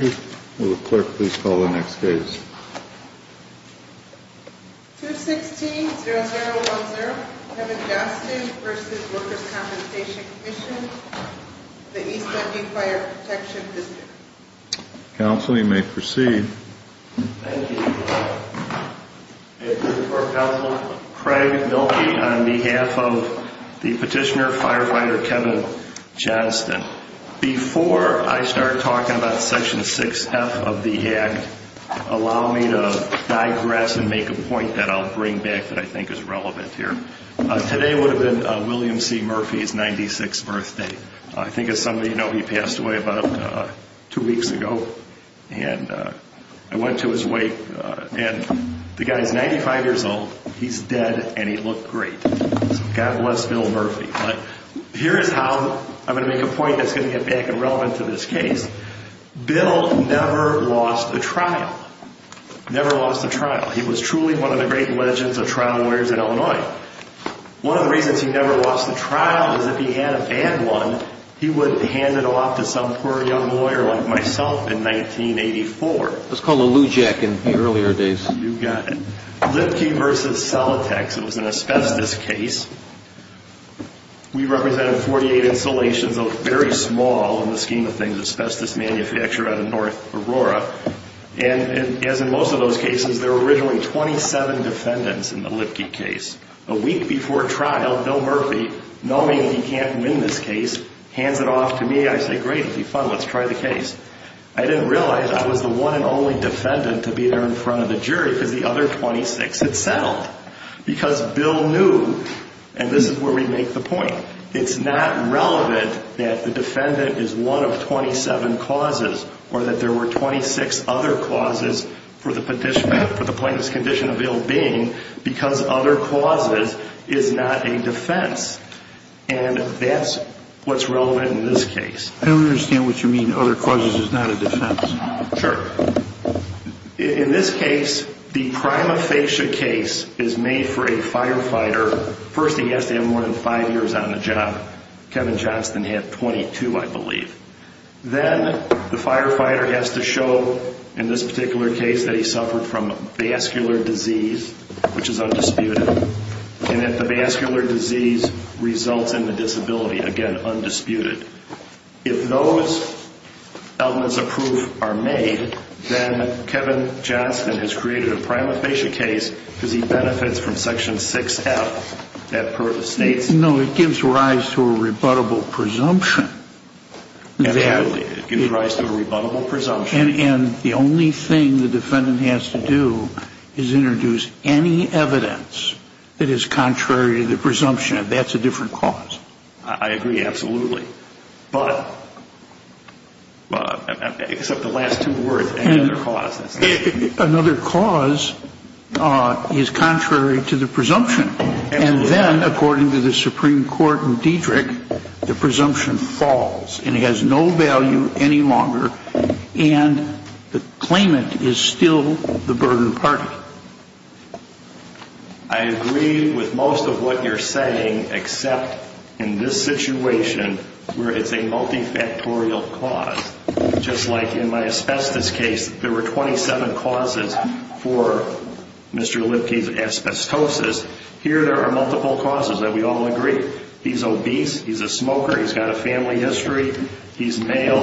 216-0010 Kevin Jastin v. Workers' Compensation Comm'n, the East Ending Fire Protection Visitor Council, you may proceed Thank you, Mr. Chair. Good morning, Mr. Chair. I'm here on behalf of the Petitioner Firefighter Kevin Jastin. Before I start talking about Section 6F of the Act, allow me to digress and make a point that I'll bring back that I think is relevant here. Today would have been William C. Murphy's 96th birthday. I think as some of you know, he passed away about two weeks ago. I went to his wake, and the guy is 95 years old, he's dead, and he looked great. God bless Bill Murphy. Here is how I'm going to make a point that's going to get back and relevant to this case. Bill never lost a trial. Never lost a trial. He was truly one of the great legends of trial lawyers in Illinois. One of the reasons he never lost a trial is if he had a bad one, he would hand it off to some poor young lawyer like myself in 1984. It was called a Lou Jack in the earlier days. You got it. Lipke v. Celotex, it was an asbestos case. We represented 48 installations, very small in the scheme of things, asbestos manufacturer out of North Aurora. As in most of those cases, there were originally 27 defendants in the Lipke case. A week before trial, Bill Murphy, knowing he can't win this case, hands it off to me. I say, great, it will be fun. Let's try the case. I didn't realize I was the one and only defendant to be there in front of the jury because the other 26 had settled. Because Bill knew, and this is where we make the point, it's not relevant that the defendant is one of 27 causes or that there were 26 other causes for the plaintiff's condition of ill-being because other causes is not a defense. And that's what's relevant in this case. I don't understand what you mean, other causes is not a defense. Sure. In this case, the prima facie case is made for a firefighter. First, he has to have more than five years on the job. Kevin Johnston had 22, I believe. Then the firefighter has to show in this particular case that he suffered from vascular disease, which is undisputed, and that the vascular disease results in the disability. Again, undisputed. If those elements of proof are made, then Kevin Johnston has created a prima facie case because he benefits from Section 6F. That purpose states? No, it gives rise to a rebuttable presumption. Absolutely. It gives rise to a rebuttable presumption. And the only thing the defendant has to do is introduce any evidence that is contrary to the presumption. That's a different cause. I agree. Absolutely. But except the last two words, another cause. Another cause is contrary to the presumption. And then, according to the Supreme Court in Diedrich, the presumption falls, and it has no value any longer, and the claimant is still the burden party. I agree with most of what you're saying, except in this situation where it's a multifactorial cause. Just like in my asbestos case, there were 27 causes for Mr. Lipke's asbestosis, here there are multiple causes that we all agree. He's obese, he's a smoker, he's got a family history, he's male,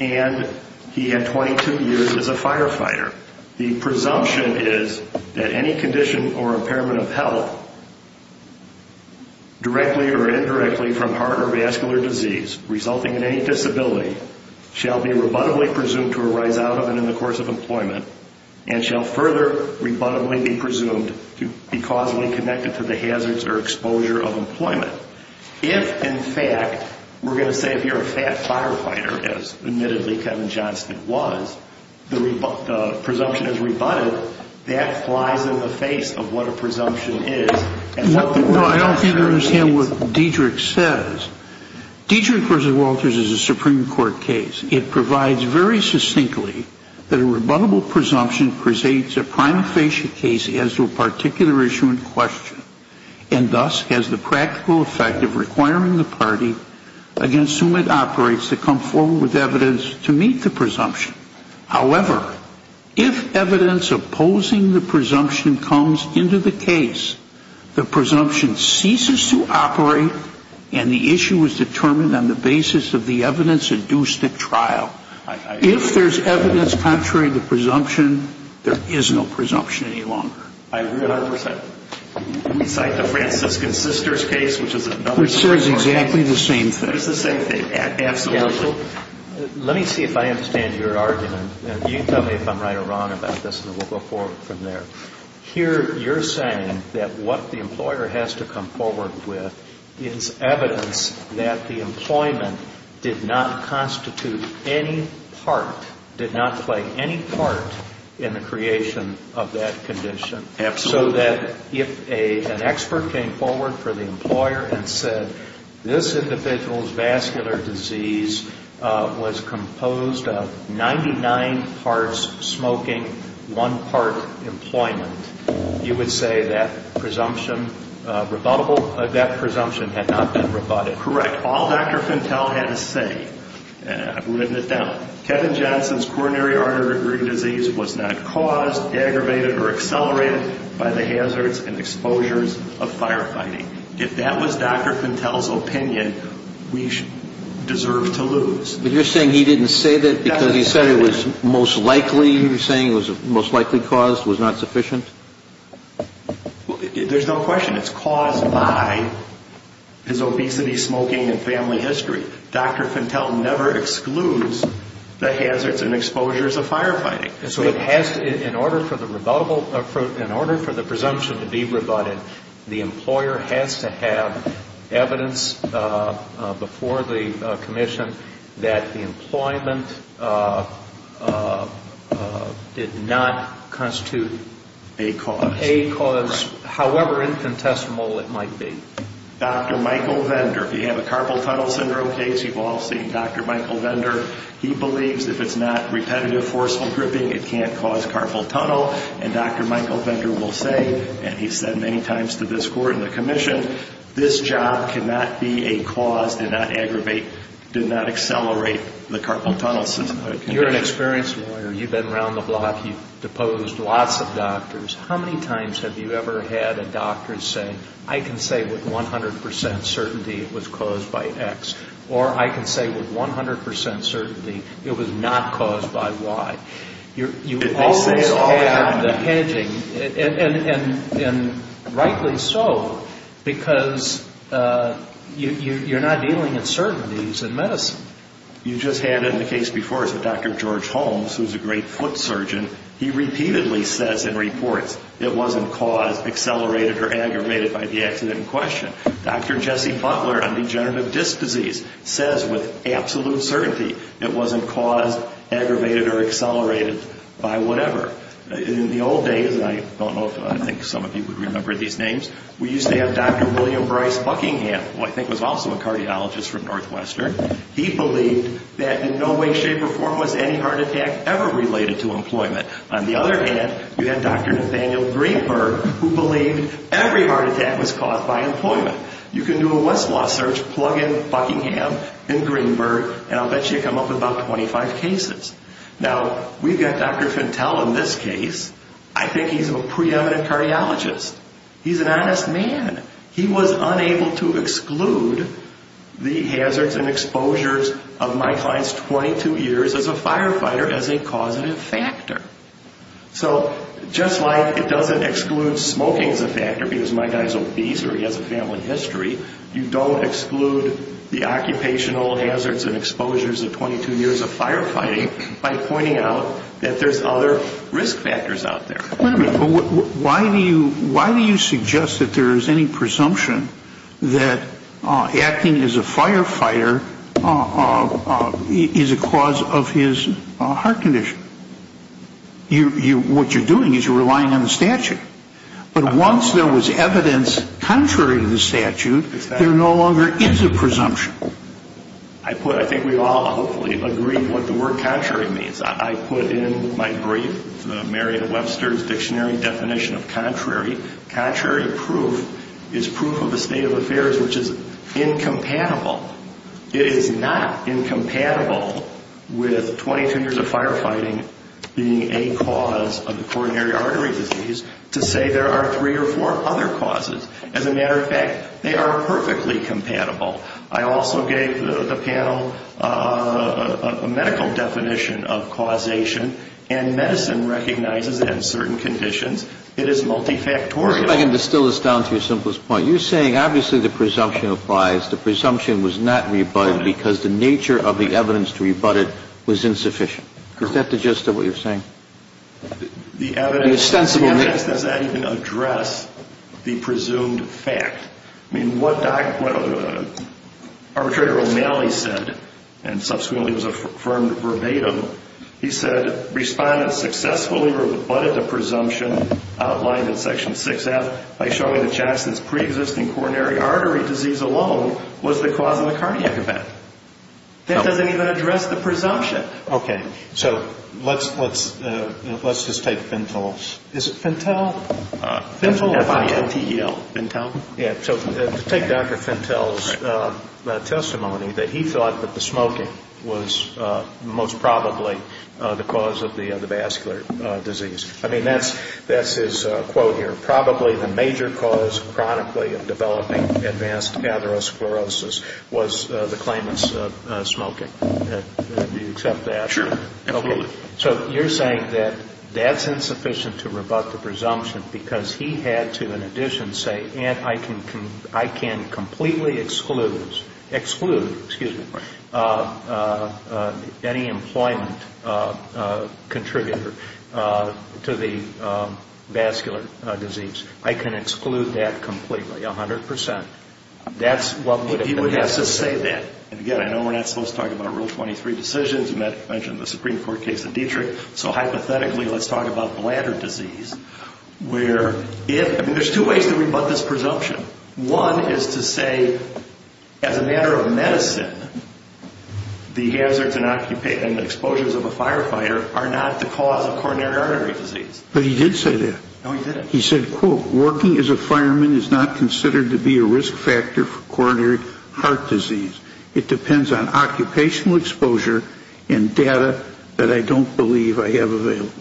and he had 22 years as a firefighter. The presumption is that any condition or impairment of health, directly or indirectly from heart or vascular disease resulting in any disability, shall be rebuttably presumed to arise out of and in the course of employment and shall further rebuttably be presumed to be causally connected to the hazards or exposure of employment. If, in fact, we're going to say if you're a fat firefighter, as admittedly Kevin Johnston was, the presumption is rebutted, that flies in the face of what a presumption is No, I don't think I understand what Diedrich says. Diedrich v. Walters is a Supreme Court case. It provides very succinctly that a rebuttable presumption presates a prima facie case as to a particular issue in question and thus has the practical effect of requiring the party against whom it operates to come forward with evidence to meet the presumption. However, if evidence opposing the presumption comes into the case, the presumption ceases to operate and the issue is determined on the basis of the evidence induced at trial. If there's evidence contrary to presumption, there is no presumption any longer. I agree 100%. We cite the Franciscan Sisters case, which is another Supreme Court case. Which says exactly the same thing. It's the same thing, absolutely. Counsel, let me see if I understand your argument. You tell me if I'm right or wrong about this and we'll go forward from there. Here you're saying that what the employer has to come forward with is evidence that the employment did not constitute any part, did not play any part in the creation of that condition. Absolutely. So that if an expert came forward for the employer and said, this individual's vascular disease was composed of 99 parts smoking, one part employment, you would say that presumption had not been rebutted. Correct. All Dr. Fentel had to say, and I've written it down, Kevin Johnson's coronary artery disease was not caused, aggravated, or accelerated by the hazards and exposures of firefighting. If that was Dr. Fentel's opinion, we deserve to lose. But you're saying he didn't say that because he said it was most likely, you're saying it was most likely caused, was not sufficient? There's no question. It's caused by his obesity, smoking, and family history. Dr. Fentel never excludes the hazards and exposures of firefighting. So in order for the presumption to be rebutted, the employer has to have evidence before the commission that the employment did not constitute a cause. A cause, however infinitesimal it might be. Dr. Michael Vendor, if you have a carpal tunnel syndrome case, you've all seen Dr. Michael Vendor. He believes if it's not repetitive, forceful gripping, it can't cause carpal tunnel. And Dr. Michael Vendor will say, and he's said many times to this court and the commission, this job cannot be a cause, did not aggravate, did not accelerate the carpal tunnel syndrome. You're an experienced lawyer. You've been around the block. You've deposed lots of doctors. How many times have you ever had a doctor say, I can say with 100% certainty it was caused by X, or I can say with 100% certainty it was not caused by Y? You always have the hedging, and rightly so, because you're not dealing with certainties in medicine. You just had in the case before, Dr. George Holmes, who's a great foot surgeon, he repeatedly says in reports it wasn't caused, accelerated, or aggravated by the accident in question. Dr. Jesse Butler on degenerative disc disease says with absolute certainty it wasn't caused, aggravated, or accelerated by whatever. In the old days, and I don't know if I think some of you would remember these names, we used to have Dr. William Bryce Buckingham, who I think was also a cardiologist from Northwestern. He believed that in no way, shape, or form was any heart attack ever related to employment. On the other hand, we had Dr. Nathaniel Greenberg, who believed every heart attack was caused by employment. You can do a Westlaw search, plug in Buckingham and Greenberg, and I'll bet you come up with about 25 cases. Now, we've got Dr. Fentel in this case. I think he's a preeminent cardiologist. He's an honest man. He was unable to exclude the hazards and exposures of my client's 22 years as a firefighter as a causative factor. So just like it doesn't exclude smoking as a factor because my guy's obese or he has a family history, you don't exclude the occupational hazards and exposures of 22 years of firefighting by pointing out that there's other risk factors out there. Wait a minute. Why do you suggest that there is any presumption that acting as a firefighter is a cause of his heart condition? What you're doing is you're relying on the statute. But once there was evidence contrary to the statute, there no longer is a presumption. I think we've all hopefully agreed what the word contrary means. I put in my brief the Merriam-Webster's Dictionary Definition of Contrary. Contrary proof is proof of a state of affairs which is incompatible. It is not incompatible with 22 years of firefighting being a cause of the coronary artery disease to say there are three or four other causes. As a matter of fact, they are perfectly compatible. I also gave the panel a medical definition of causation. And medicine recognizes it in certain conditions. It is multifactorial. If I can distill this down to your simplest point. You're saying obviously the presumption applies. The presumption was not rebutted because the nature of the evidence to rebut it was insufficient. Is that the gist of what you're saying? The evidence does not even address the presumed fact. I mean, what Arbitrator O'Malley said and subsequently was affirmed verbatim, he said respondents successfully rebutted the presumption outlined in Section 6F by showing that Jackson's preexisting coronary artery disease alone was the cause of the cardiac event. That doesn't even address the presumption. Okay. So let's just take Fentel. Is it Fentel? F-I-N-T-E-L. Fentel? Yeah. So take Dr. Fentel's testimony that he thought that the smoking was most probably the cause of the vascular disease. I mean, that's his quote here. Probably the major cause chronically of developing advanced cataract sclerosis was the claimant's smoking. Do you accept that? Sure. Absolutely. So you're saying that that's insufficient to rebut the presumption because he had to, in addition, say, and I can completely exclude any employment contributor to the vascular disease. I can exclude that completely, 100%. That's what would have been necessary. He would have to say that. And, again, I know we're not supposed to talk about Rule 23 decisions. Matt mentioned the Supreme Court case in Dietrich. So, hypothetically, let's talk about bladder disease where if – I mean, there's two ways to rebut this presumption. One is to say, as a matter of medicine, the hazards and exposures of a firefighter are not the cause of coronary artery disease. But he did say that. No, he didn't. He said, quote, Working as a fireman is not considered to be a risk factor for coronary heart disease. It depends on occupational exposure and data that I don't believe I have available.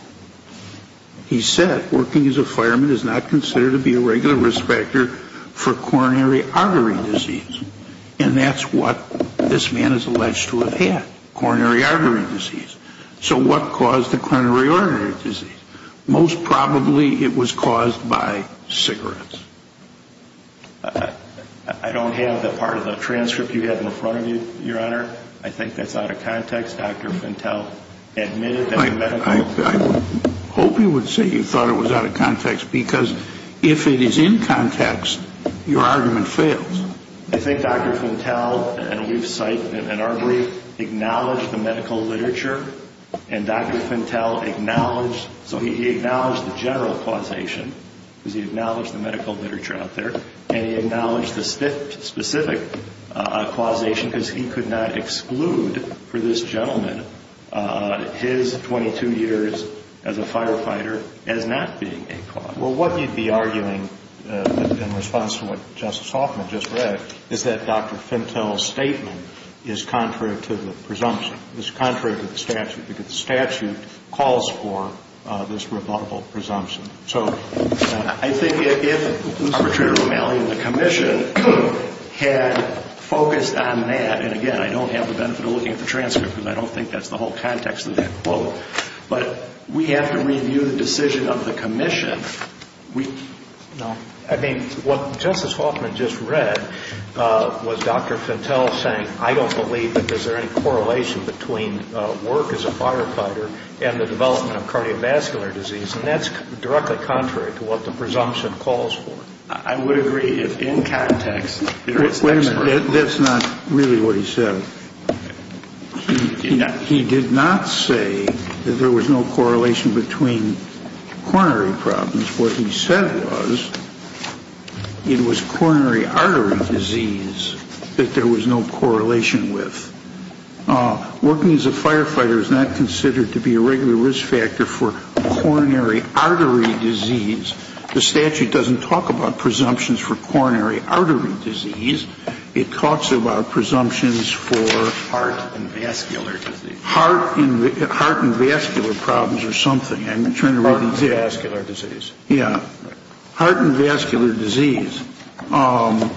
He said, working as a fireman is not considered to be a regular risk factor for coronary artery disease. And that's what this man is alleged to have had, coronary artery disease. So what caused the coronary artery disease? Most probably it was caused by cigarettes. I don't have the part of the transcript you have in front of you, Your Honor. I think that's out of context. Dr. Fintel admitted that the medical – I hope you would say you thought it was out of context because if it is in context, your argument fails. I think Dr. Fintel, and we've cited in our brief, acknowledged the medical literature. And Dr. Fintel acknowledged – so he acknowledged the general causation. Because he acknowledged the medical literature out there. And he acknowledged the specific causation because he could not exclude for this gentleman his 22 years as a firefighter as not being a cause. Well, what you'd be arguing in response to what Justice Hoffman just read is that Dr. Fintel's statement is contrary to the presumption. It's contrary to the statute because the statute calls for this rebuttable presumption. So I think if Lucretia Romali and the Commission had focused on that – and again, I don't have the benefit of looking at the transcript because I don't think that's the whole context of that quote. But we have to review the decision of the Commission. I mean, what Justice Hoffman just read was Dr. Fintel saying, I don't believe that there's any correlation between work as a firefighter and the development of cardiovascular disease. And that's directly contrary to what the presumption calls for. I would agree if in context – Wait a minute. That's not really what he said. He did not say that there was no correlation between coronary problems. What he said was it was coronary artery disease that there was no correlation with. Working as a firefighter is not considered to be a regular risk factor for coronary artery disease. The statute doesn't talk about presumptions for coronary artery disease. It talks about presumptions for – Heart and vascular disease. Heart and vascular problems or something. Heart and vascular disease. Yeah. Heart and vascular disease. I'm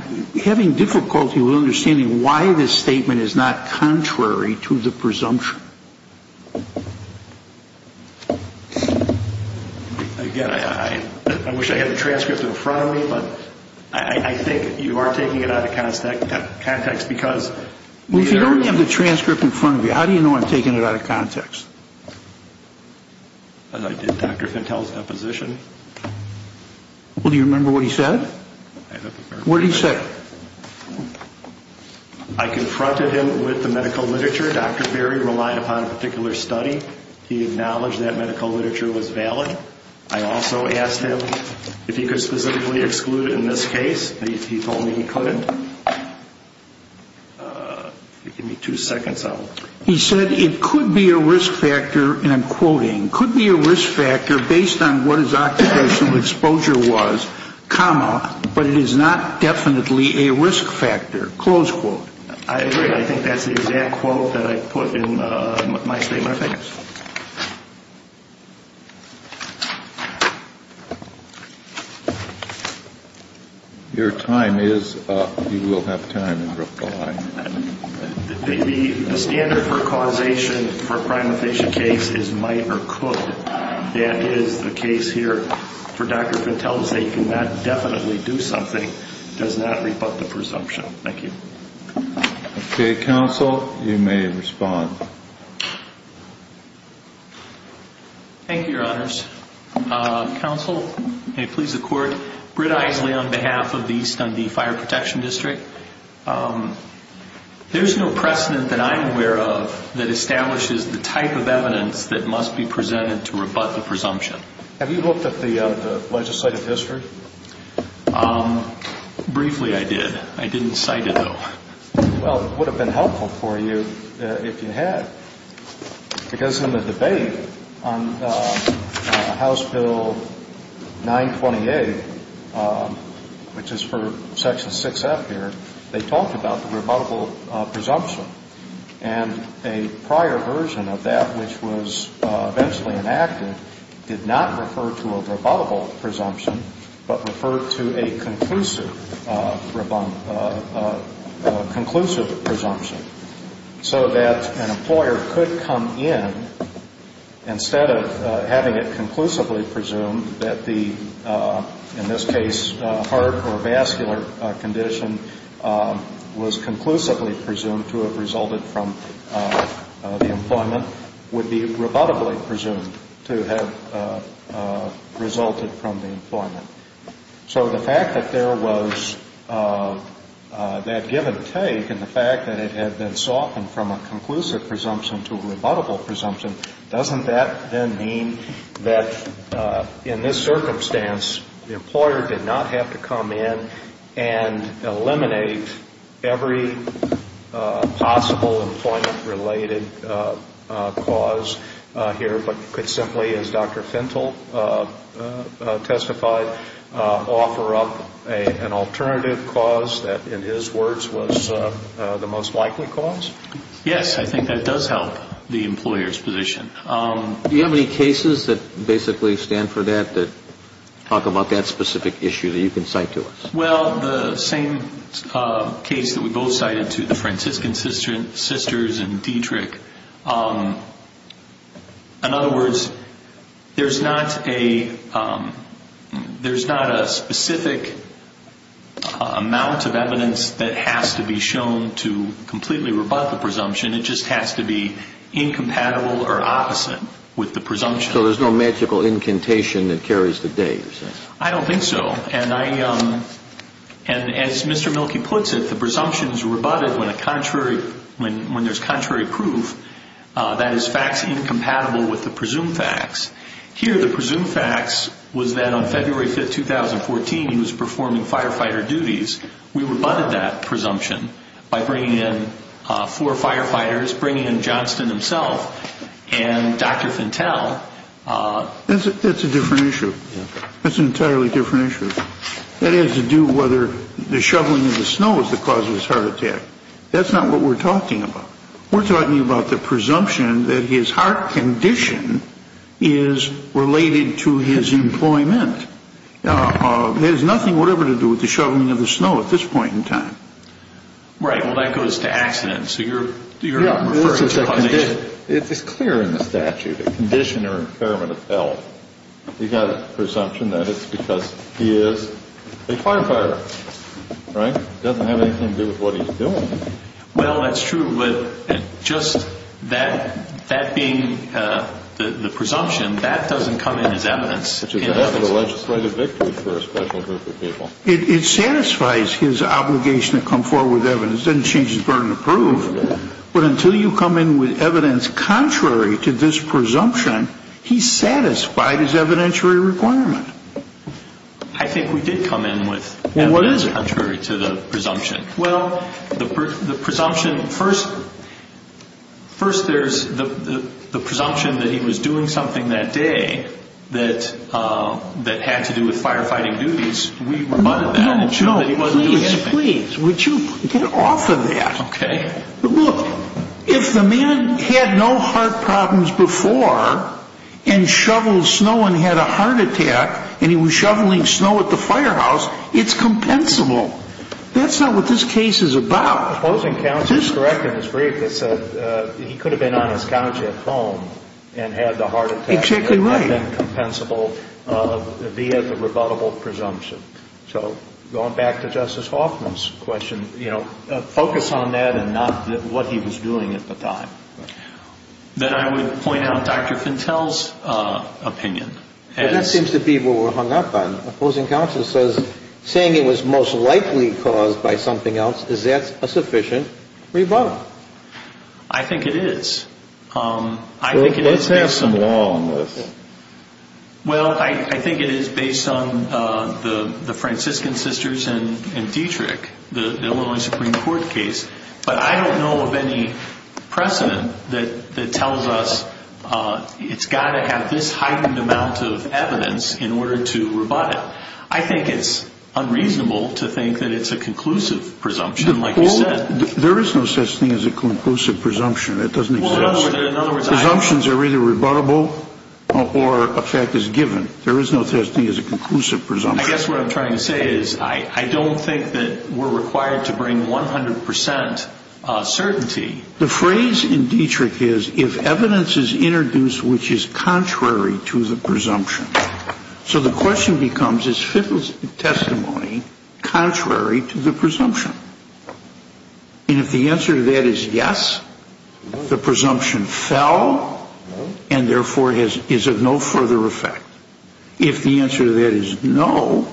having difficulty with understanding why this statement is not contrary to the presumption. Again, I wish I had the transcript in front of me, but I think you are taking it out of context because we are – Well, if you don't have the transcript in front of you, how do you know I'm taking it out of context? As I did Dr. Fentel's deposition. Well, do you remember what he said? I don't remember. What did he say? I confronted him with the medical literature. Dr. Berry relied upon a particular study. He acknowledged that medical literature was valid. I also asked him if he could specifically exclude it in this case. He told me he couldn't. Give me two seconds. He said it could be a risk factor, and I'm quoting, could be a risk factor based on what his occupational exposure was, comma, but it is not definitely a risk factor, close quote. I agree. I think that's the exact quote that I put in my statement. Thank you. Your time is up. You will have time to reply. The standard for causation for a crime of patient case is might or could. That is the case here. For Dr. Fentel's they cannot definitely do something. It does not rebut the presumption. Thank you. Okay, counsel, you may respond. Counsel, may it please the court, Britt Eiseley on behalf of the East Indy Fire Protection District. There's no precedent that I'm aware of that establishes the type of evidence that must be presented to rebut the presumption. Have you looked at the legislative history? Briefly I did. I didn't cite it, though. Well, it would have been helpful for you if you had, because in the debate on House Bill 928, which is for Section 6F here, they talked about the rebuttable presumption. And a prior version of that, which was eventually enacted, did not refer to a rebuttable presumption, but referred to a conclusive presumption. So that an employer could come in, instead of having it conclusively presumed that the, in this case, heart or vascular condition was conclusively presumed to have resulted from the employment, would be rebuttably presumed to have resulted from the employment. So the fact that there was that give and take and the fact that it had been softened from a conclusive presumption to a rebuttable presumption, doesn't that then mean that in this circumstance the employer did not have to come in and eliminate every possible employment-related cause here, but could simply, as Dr. Fentel testified, offer up an alternative cause that, in his words, was the most likely cause? Yes, I think that does help the employer's position. Do you have any cases that basically stand for that, that talk about that specific issue that you can cite to us? Well, the same case that we both cited to the Franciscan sisters in Dietrich, in other words, there's not a specific amount of evidence that has to be shown to completely rebut the presumption. It just has to be incompatible or opposite with the presumption. So there's no magical incantation that carries the days? I don't think so. And as Mr. Mielke puts it, the presumption is rebutted when there's contrary proof that is facts incompatible with the presumed facts. Here the presumed facts was that on February 5, 2014, he was performing firefighter duties. We rebutted that presumption by bringing in four firefighters, bringing in Johnston himself and Dr. Fentel. That's a different issue. That's an entirely different issue. That has to do whether the shoveling of the snow is the cause of his heart attack. That's not what we're talking about. We're talking about the presumption that his heart condition is related to his employment. It has nothing whatever to do with the shoveling of the snow at this point in time. Right. Well, that goes to accident. It's clear in the statute, a condition or impairment of health. You've got a presumption that it's because he is a firefighter, right? It doesn't have anything to do with what he's doing. Well, that's true. But just that being the presumption, that doesn't come in as evidence. Which is a legislative victory for a special group of people. It satisfies his obligation to come forward with evidence. But until you come in with evidence contrary to this presumption, he's satisfied his evidentiary requirement. I think we did come in with evidence contrary to the presumption. Well, the presumption first there's the presumption that he was doing something that day that had to do with firefighting duties. We rebutted that and showed that he wasn't doing anything. Yes, please. Would you get off of that? Okay. Look, if the man had no heart problems before and shoveled snow and had a heart attack and he was shoveling snow at the firehouse, it's compensable. That's not what this case is about. The opposing counsel is correct in his brief. It said he could have been on his couch at home and had the heart attack. Exactly right. It might have been compensable via the rebuttable presumption. So going back to Justice Hoffman's question, you know, focus on that and not what he was doing at the time. Then I would point out Dr. Fintell's opinion. That seems to be what we're hung up on. The opposing counsel says, saying it was most likely caused by something else, is that a sufficient rebuttal? I think it is. I think it is based on. Let's have some law on this. Well, I think it is based on the Franciscan sisters and Dietrich, the Illinois Supreme Court case. But I don't know of any precedent that tells us it's got to have this heightened amount of evidence in order to rebut it. I think it's unreasonable to think that it's a conclusive presumption, like you said. There is no such thing as a conclusive presumption. That doesn't exist. Presumptions are either rebuttable or a fact is given. There is no such thing as a conclusive presumption. I guess what I'm trying to say is I don't think that we're required to bring 100% certainty. The phrase in Dietrich is, if evidence is introduced which is contrary to the presumption. So the question becomes, is Fintell's testimony contrary to the presumption? And if the answer to that is yes, the presumption fell and therefore is of no further effect. If the answer to that is no,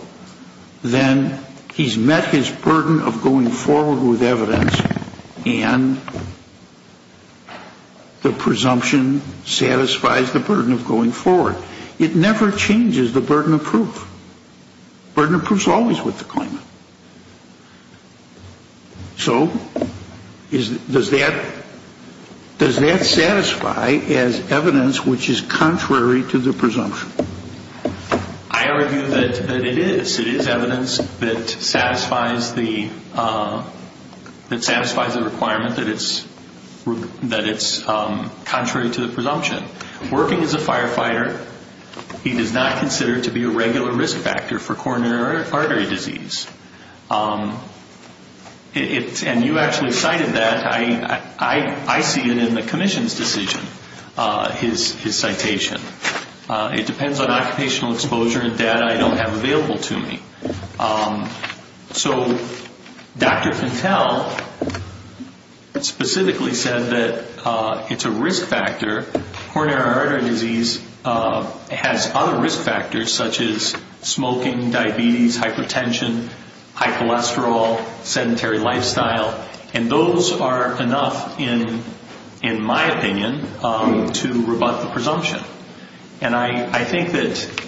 then he's met his burden of going forward with evidence and the presumption satisfies the burden of going forward. It never changes the burden of proof. Burden of proof is always with the claimant. So does that satisfy as evidence which is contrary to the presumption? I argue that it is. It is evidence that satisfies the requirement that it's contrary to the presumption. Working as a firefighter, he does not consider to be a regular risk factor for coronary artery disease. And you actually cited that. I see it in the commission's decision, his citation. It depends on occupational exposure and data I don't have available to me. So Dr. Fintell specifically said that it's a risk factor. Coronary artery disease has other risk factors such as smoking, diabetes, hypertension, high cholesterol, sedentary lifestyle. And those are enough, in my opinion, to rebut the presumption. And I think that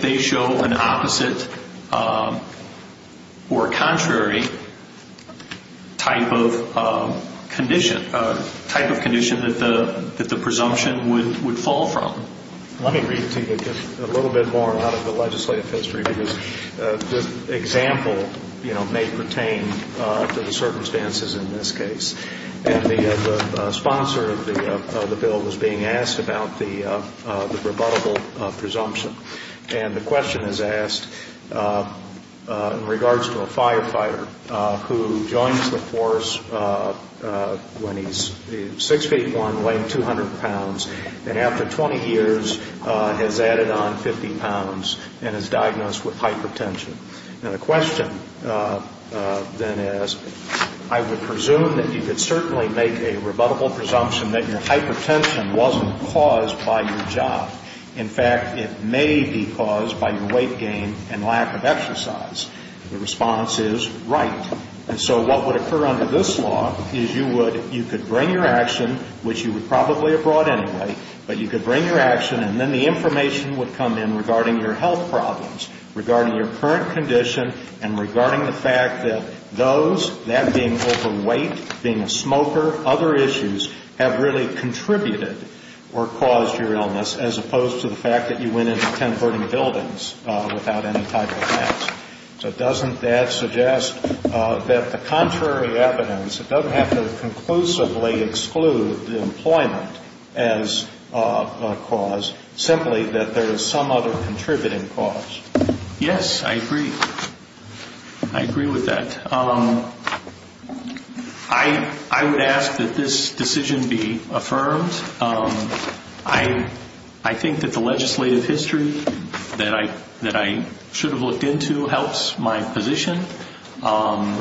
they show an opposite or contrary type of condition that the presumption would fall from. Let me read to you a little bit more out of the legislative history because this example may pertain to the circumstances in this case. And the sponsor of the bill was being asked about the rebuttable presumption. And the question is asked in regards to a firefighter who joins the force when he's 6'1", weighing 200 pounds, and after 20 years has added on 50 pounds and is diagnosed with hypertension. And the question then is, I would presume that you could certainly make a rebuttable presumption that your hypertension wasn't caused by your job. In fact, it may be caused by your weight gain and lack of exercise. The response is, right. And so what would occur under this law is you could bring your action, which you would probably have brought anyway, but you could bring your action and then the information would come in regarding your health problems, regarding your current condition, and regarding the fact that those, that being overweight, being a smoker, other issues have really contributed or caused your illness as opposed to the fact that you went into ten burning buildings without any type of meds. So doesn't that suggest that the contrary evidence, it doesn't have to conclusively exclude employment as a cause, simply that there is some other contributing cause. Yes, I agree. I agree with that. I would ask that this decision be affirmed. I think that the legislative history that I should have looked into helps my position. I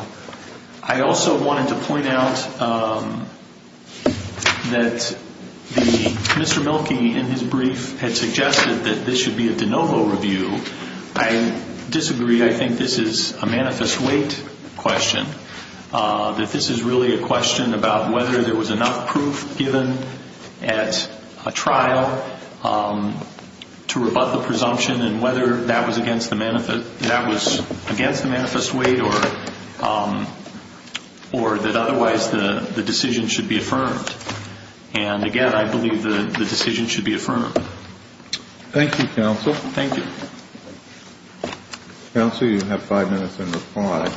also wanted to point out that Mr. Milkey in his brief had suggested that this should be a de novo review. I disagree. I think this is a manifest weight question, that this is really a question about whether there was enough proof given at a trial to rebut the presumption and whether that was against the manifest weight or that otherwise the decision should be affirmed. And, again, I believe the decision should be affirmed. Thank you, counsel. Thank you. Counsel, you have five minutes in reply.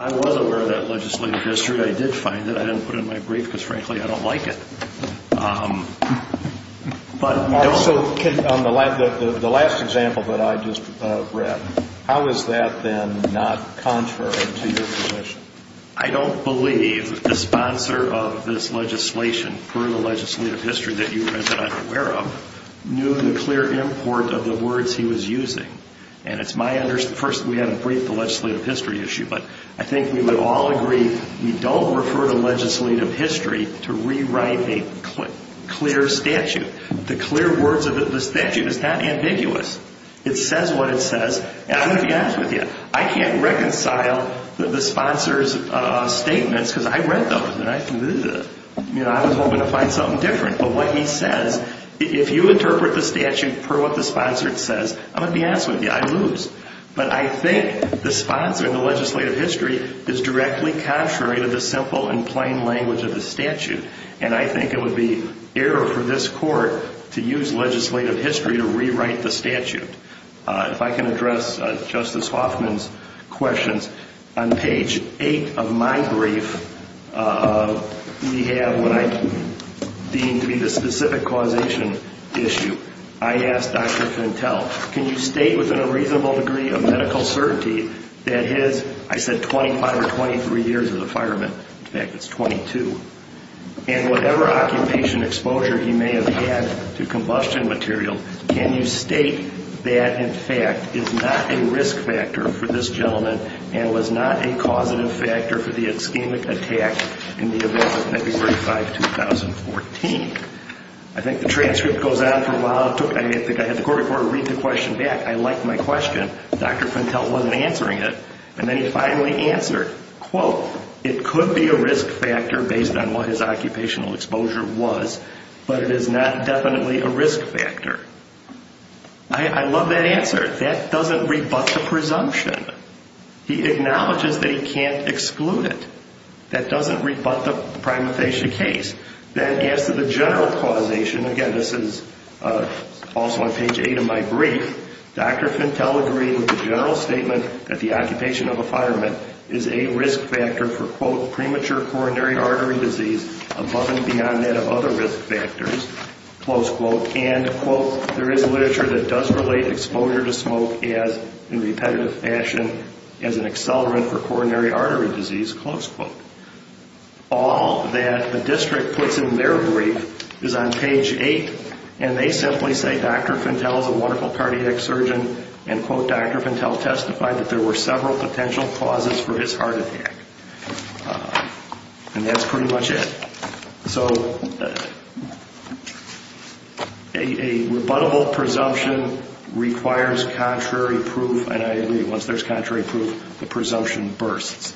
I was aware of that legislative history. I did find it. I didn't put it in my brief because, frankly, I don't like it. So the last example that I just read, how is that then not contrary to your position? I don't believe the sponsor of this legislation, per the legislative history that you are aware of, knew the clear import of the words he was using. And it's my understanding, first, we had to brief the legislative history issue, but I think we would all agree we don't refer to legislative history to rewrite a clear statute. The clear words of the statute is not ambiguous. It says what it says. And I'm going to be honest with you. I can't reconcile the sponsor's statements because I read those and I was hoping to find something different. But what he says, if you interpret the statute per what the sponsor says, I'm going to be honest with you, I lose. But I think the sponsor in the legislative history is directly contrary to the simple and plain language of the statute. And I think it would be error for this court to use legislative history to rewrite the statute. If I can address Justice Hoffman's questions. On page 8 of my brief, we have what I deem to be the specific causation issue. I asked Dr. Fentel, can you state within a reasonable degree of medical certainty that his, I said 25 or 23 years as a fireman. In fact, it's 22. And whatever occupation exposure he may have had to combustion material. Can you state that in fact is not a risk factor for this gentleman and was not a causative factor for the ischemic attack in the event of February 5, 2014? I think the transcript goes on for a while. I think I had the court reporter read the question back. I liked my question. Dr. Fentel wasn't answering it. And then he finally answered, quote, it could be a risk factor based on what his occupational exposure was. But it is not definitely a risk factor. I love that answer. That doesn't rebut the presumption. He acknowledges that he can't exclude it. That doesn't rebut the prima facie case. Then as to the general causation, again, this is also on page 8 of my brief. Dr. Fentel agreed with the general statement that the occupation of a fireman is a risk factor for, quote, premature coronary artery disease above and beyond that of other risk factors, close quote. And, quote, there is literature that does relate exposure to smoke as in repetitive fashion as an accelerant for coronary artery disease, close quote. All that the district puts in their brief is on page 8. And they simply say Dr. Fentel is a wonderful cardiac surgeon and, quote, Dr. Fentel testified that there were several potential causes for his heart attack. And that's pretty much it. So a rebuttable presumption requires contrary proof. And I agree, once there's contrary proof, the presumption bursts.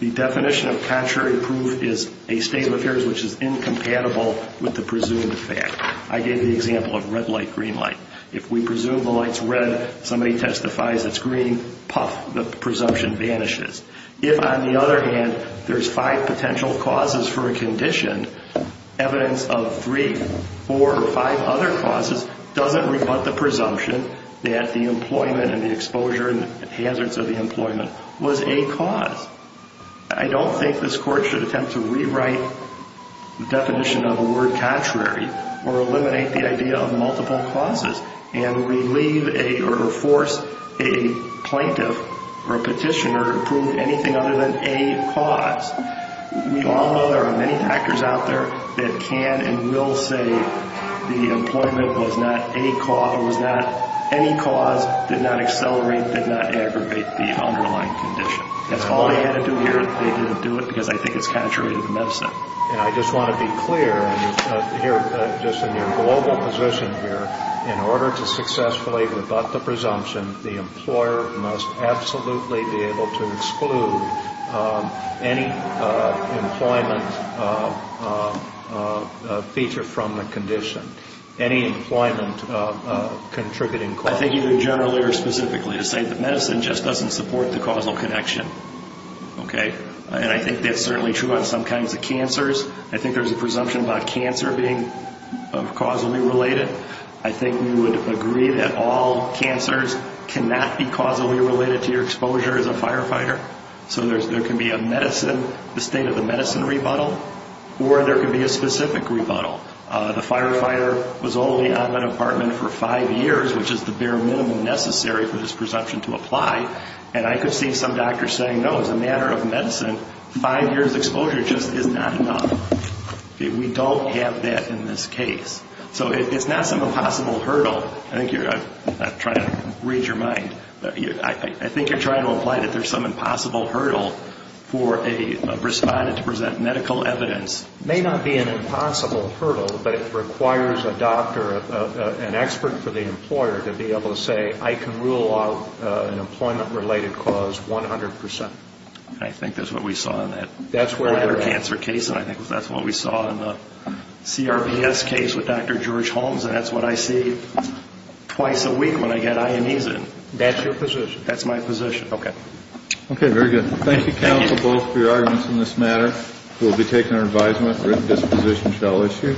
The definition of contrary proof is a state of affairs which is incompatible with the presumed fact. I gave the example of red light, green light. If we presume the light's red, somebody testifies it's green, puff, the presumption vanishes. If, on the other hand, there's five potential causes for a condition, evidence of three, four, or five other causes doesn't rebut the presumption that the employment and the exposure and hazards of the employment was a cause. I don't think this court should attempt to rewrite the definition of a word contrary or eliminate the idea of multiple causes and relieve or force a plaintiff or a petitioner to prove anything other than a cause. We all know there are many factors out there that can and will say the employment was not a cause or was not any cause, did not accelerate, did not aggravate the underlying condition. That's all they had to do here. They didn't do it because they think it's contrary to the medicine. And I just want to be clear here, just in your global position here, in order to successfully rebut the presumption, the employer must absolutely be able to exclude any employment feature from the condition, any employment contributing cause. I think either generally or specifically to say that medicine just doesn't support the causal connection, okay? And I think that's certainly true on some kinds of cancers. I think there's a presumption about cancer being causally related. I think we would agree that all cancers cannot be causally related to your exposure as a firefighter. So there can be a medicine, the state of the medicine rebuttal, or there could be a specific rebuttal. The firefighter was only on an apartment for five years, which is the bare minimum necessary for this presumption to apply. And I could see some doctors saying, no, as a matter of medicine, five years' exposure just is not enough. We don't have that in this case. So it's not some impossible hurdle. I think you're not trying to read your mind. I think you're trying to imply that there's some impossible hurdle for a respondent to present medical evidence. It may not be an impossible hurdle, but it requires a doctor, an expert for the employer to be able to say, I can rule out an employment-related cause 100%. I think that's what we saw in that cancer case, and I think that's what we saw in the CRBS case with Dr. George Holmes. And that's what I see twice a week when I get Ionesin. That's your position. That's my position. Okay. Okay, very good. Thank you, counsel, both, for your arguments in this matter. We'll be taking our advisement. Written disposition shall issue.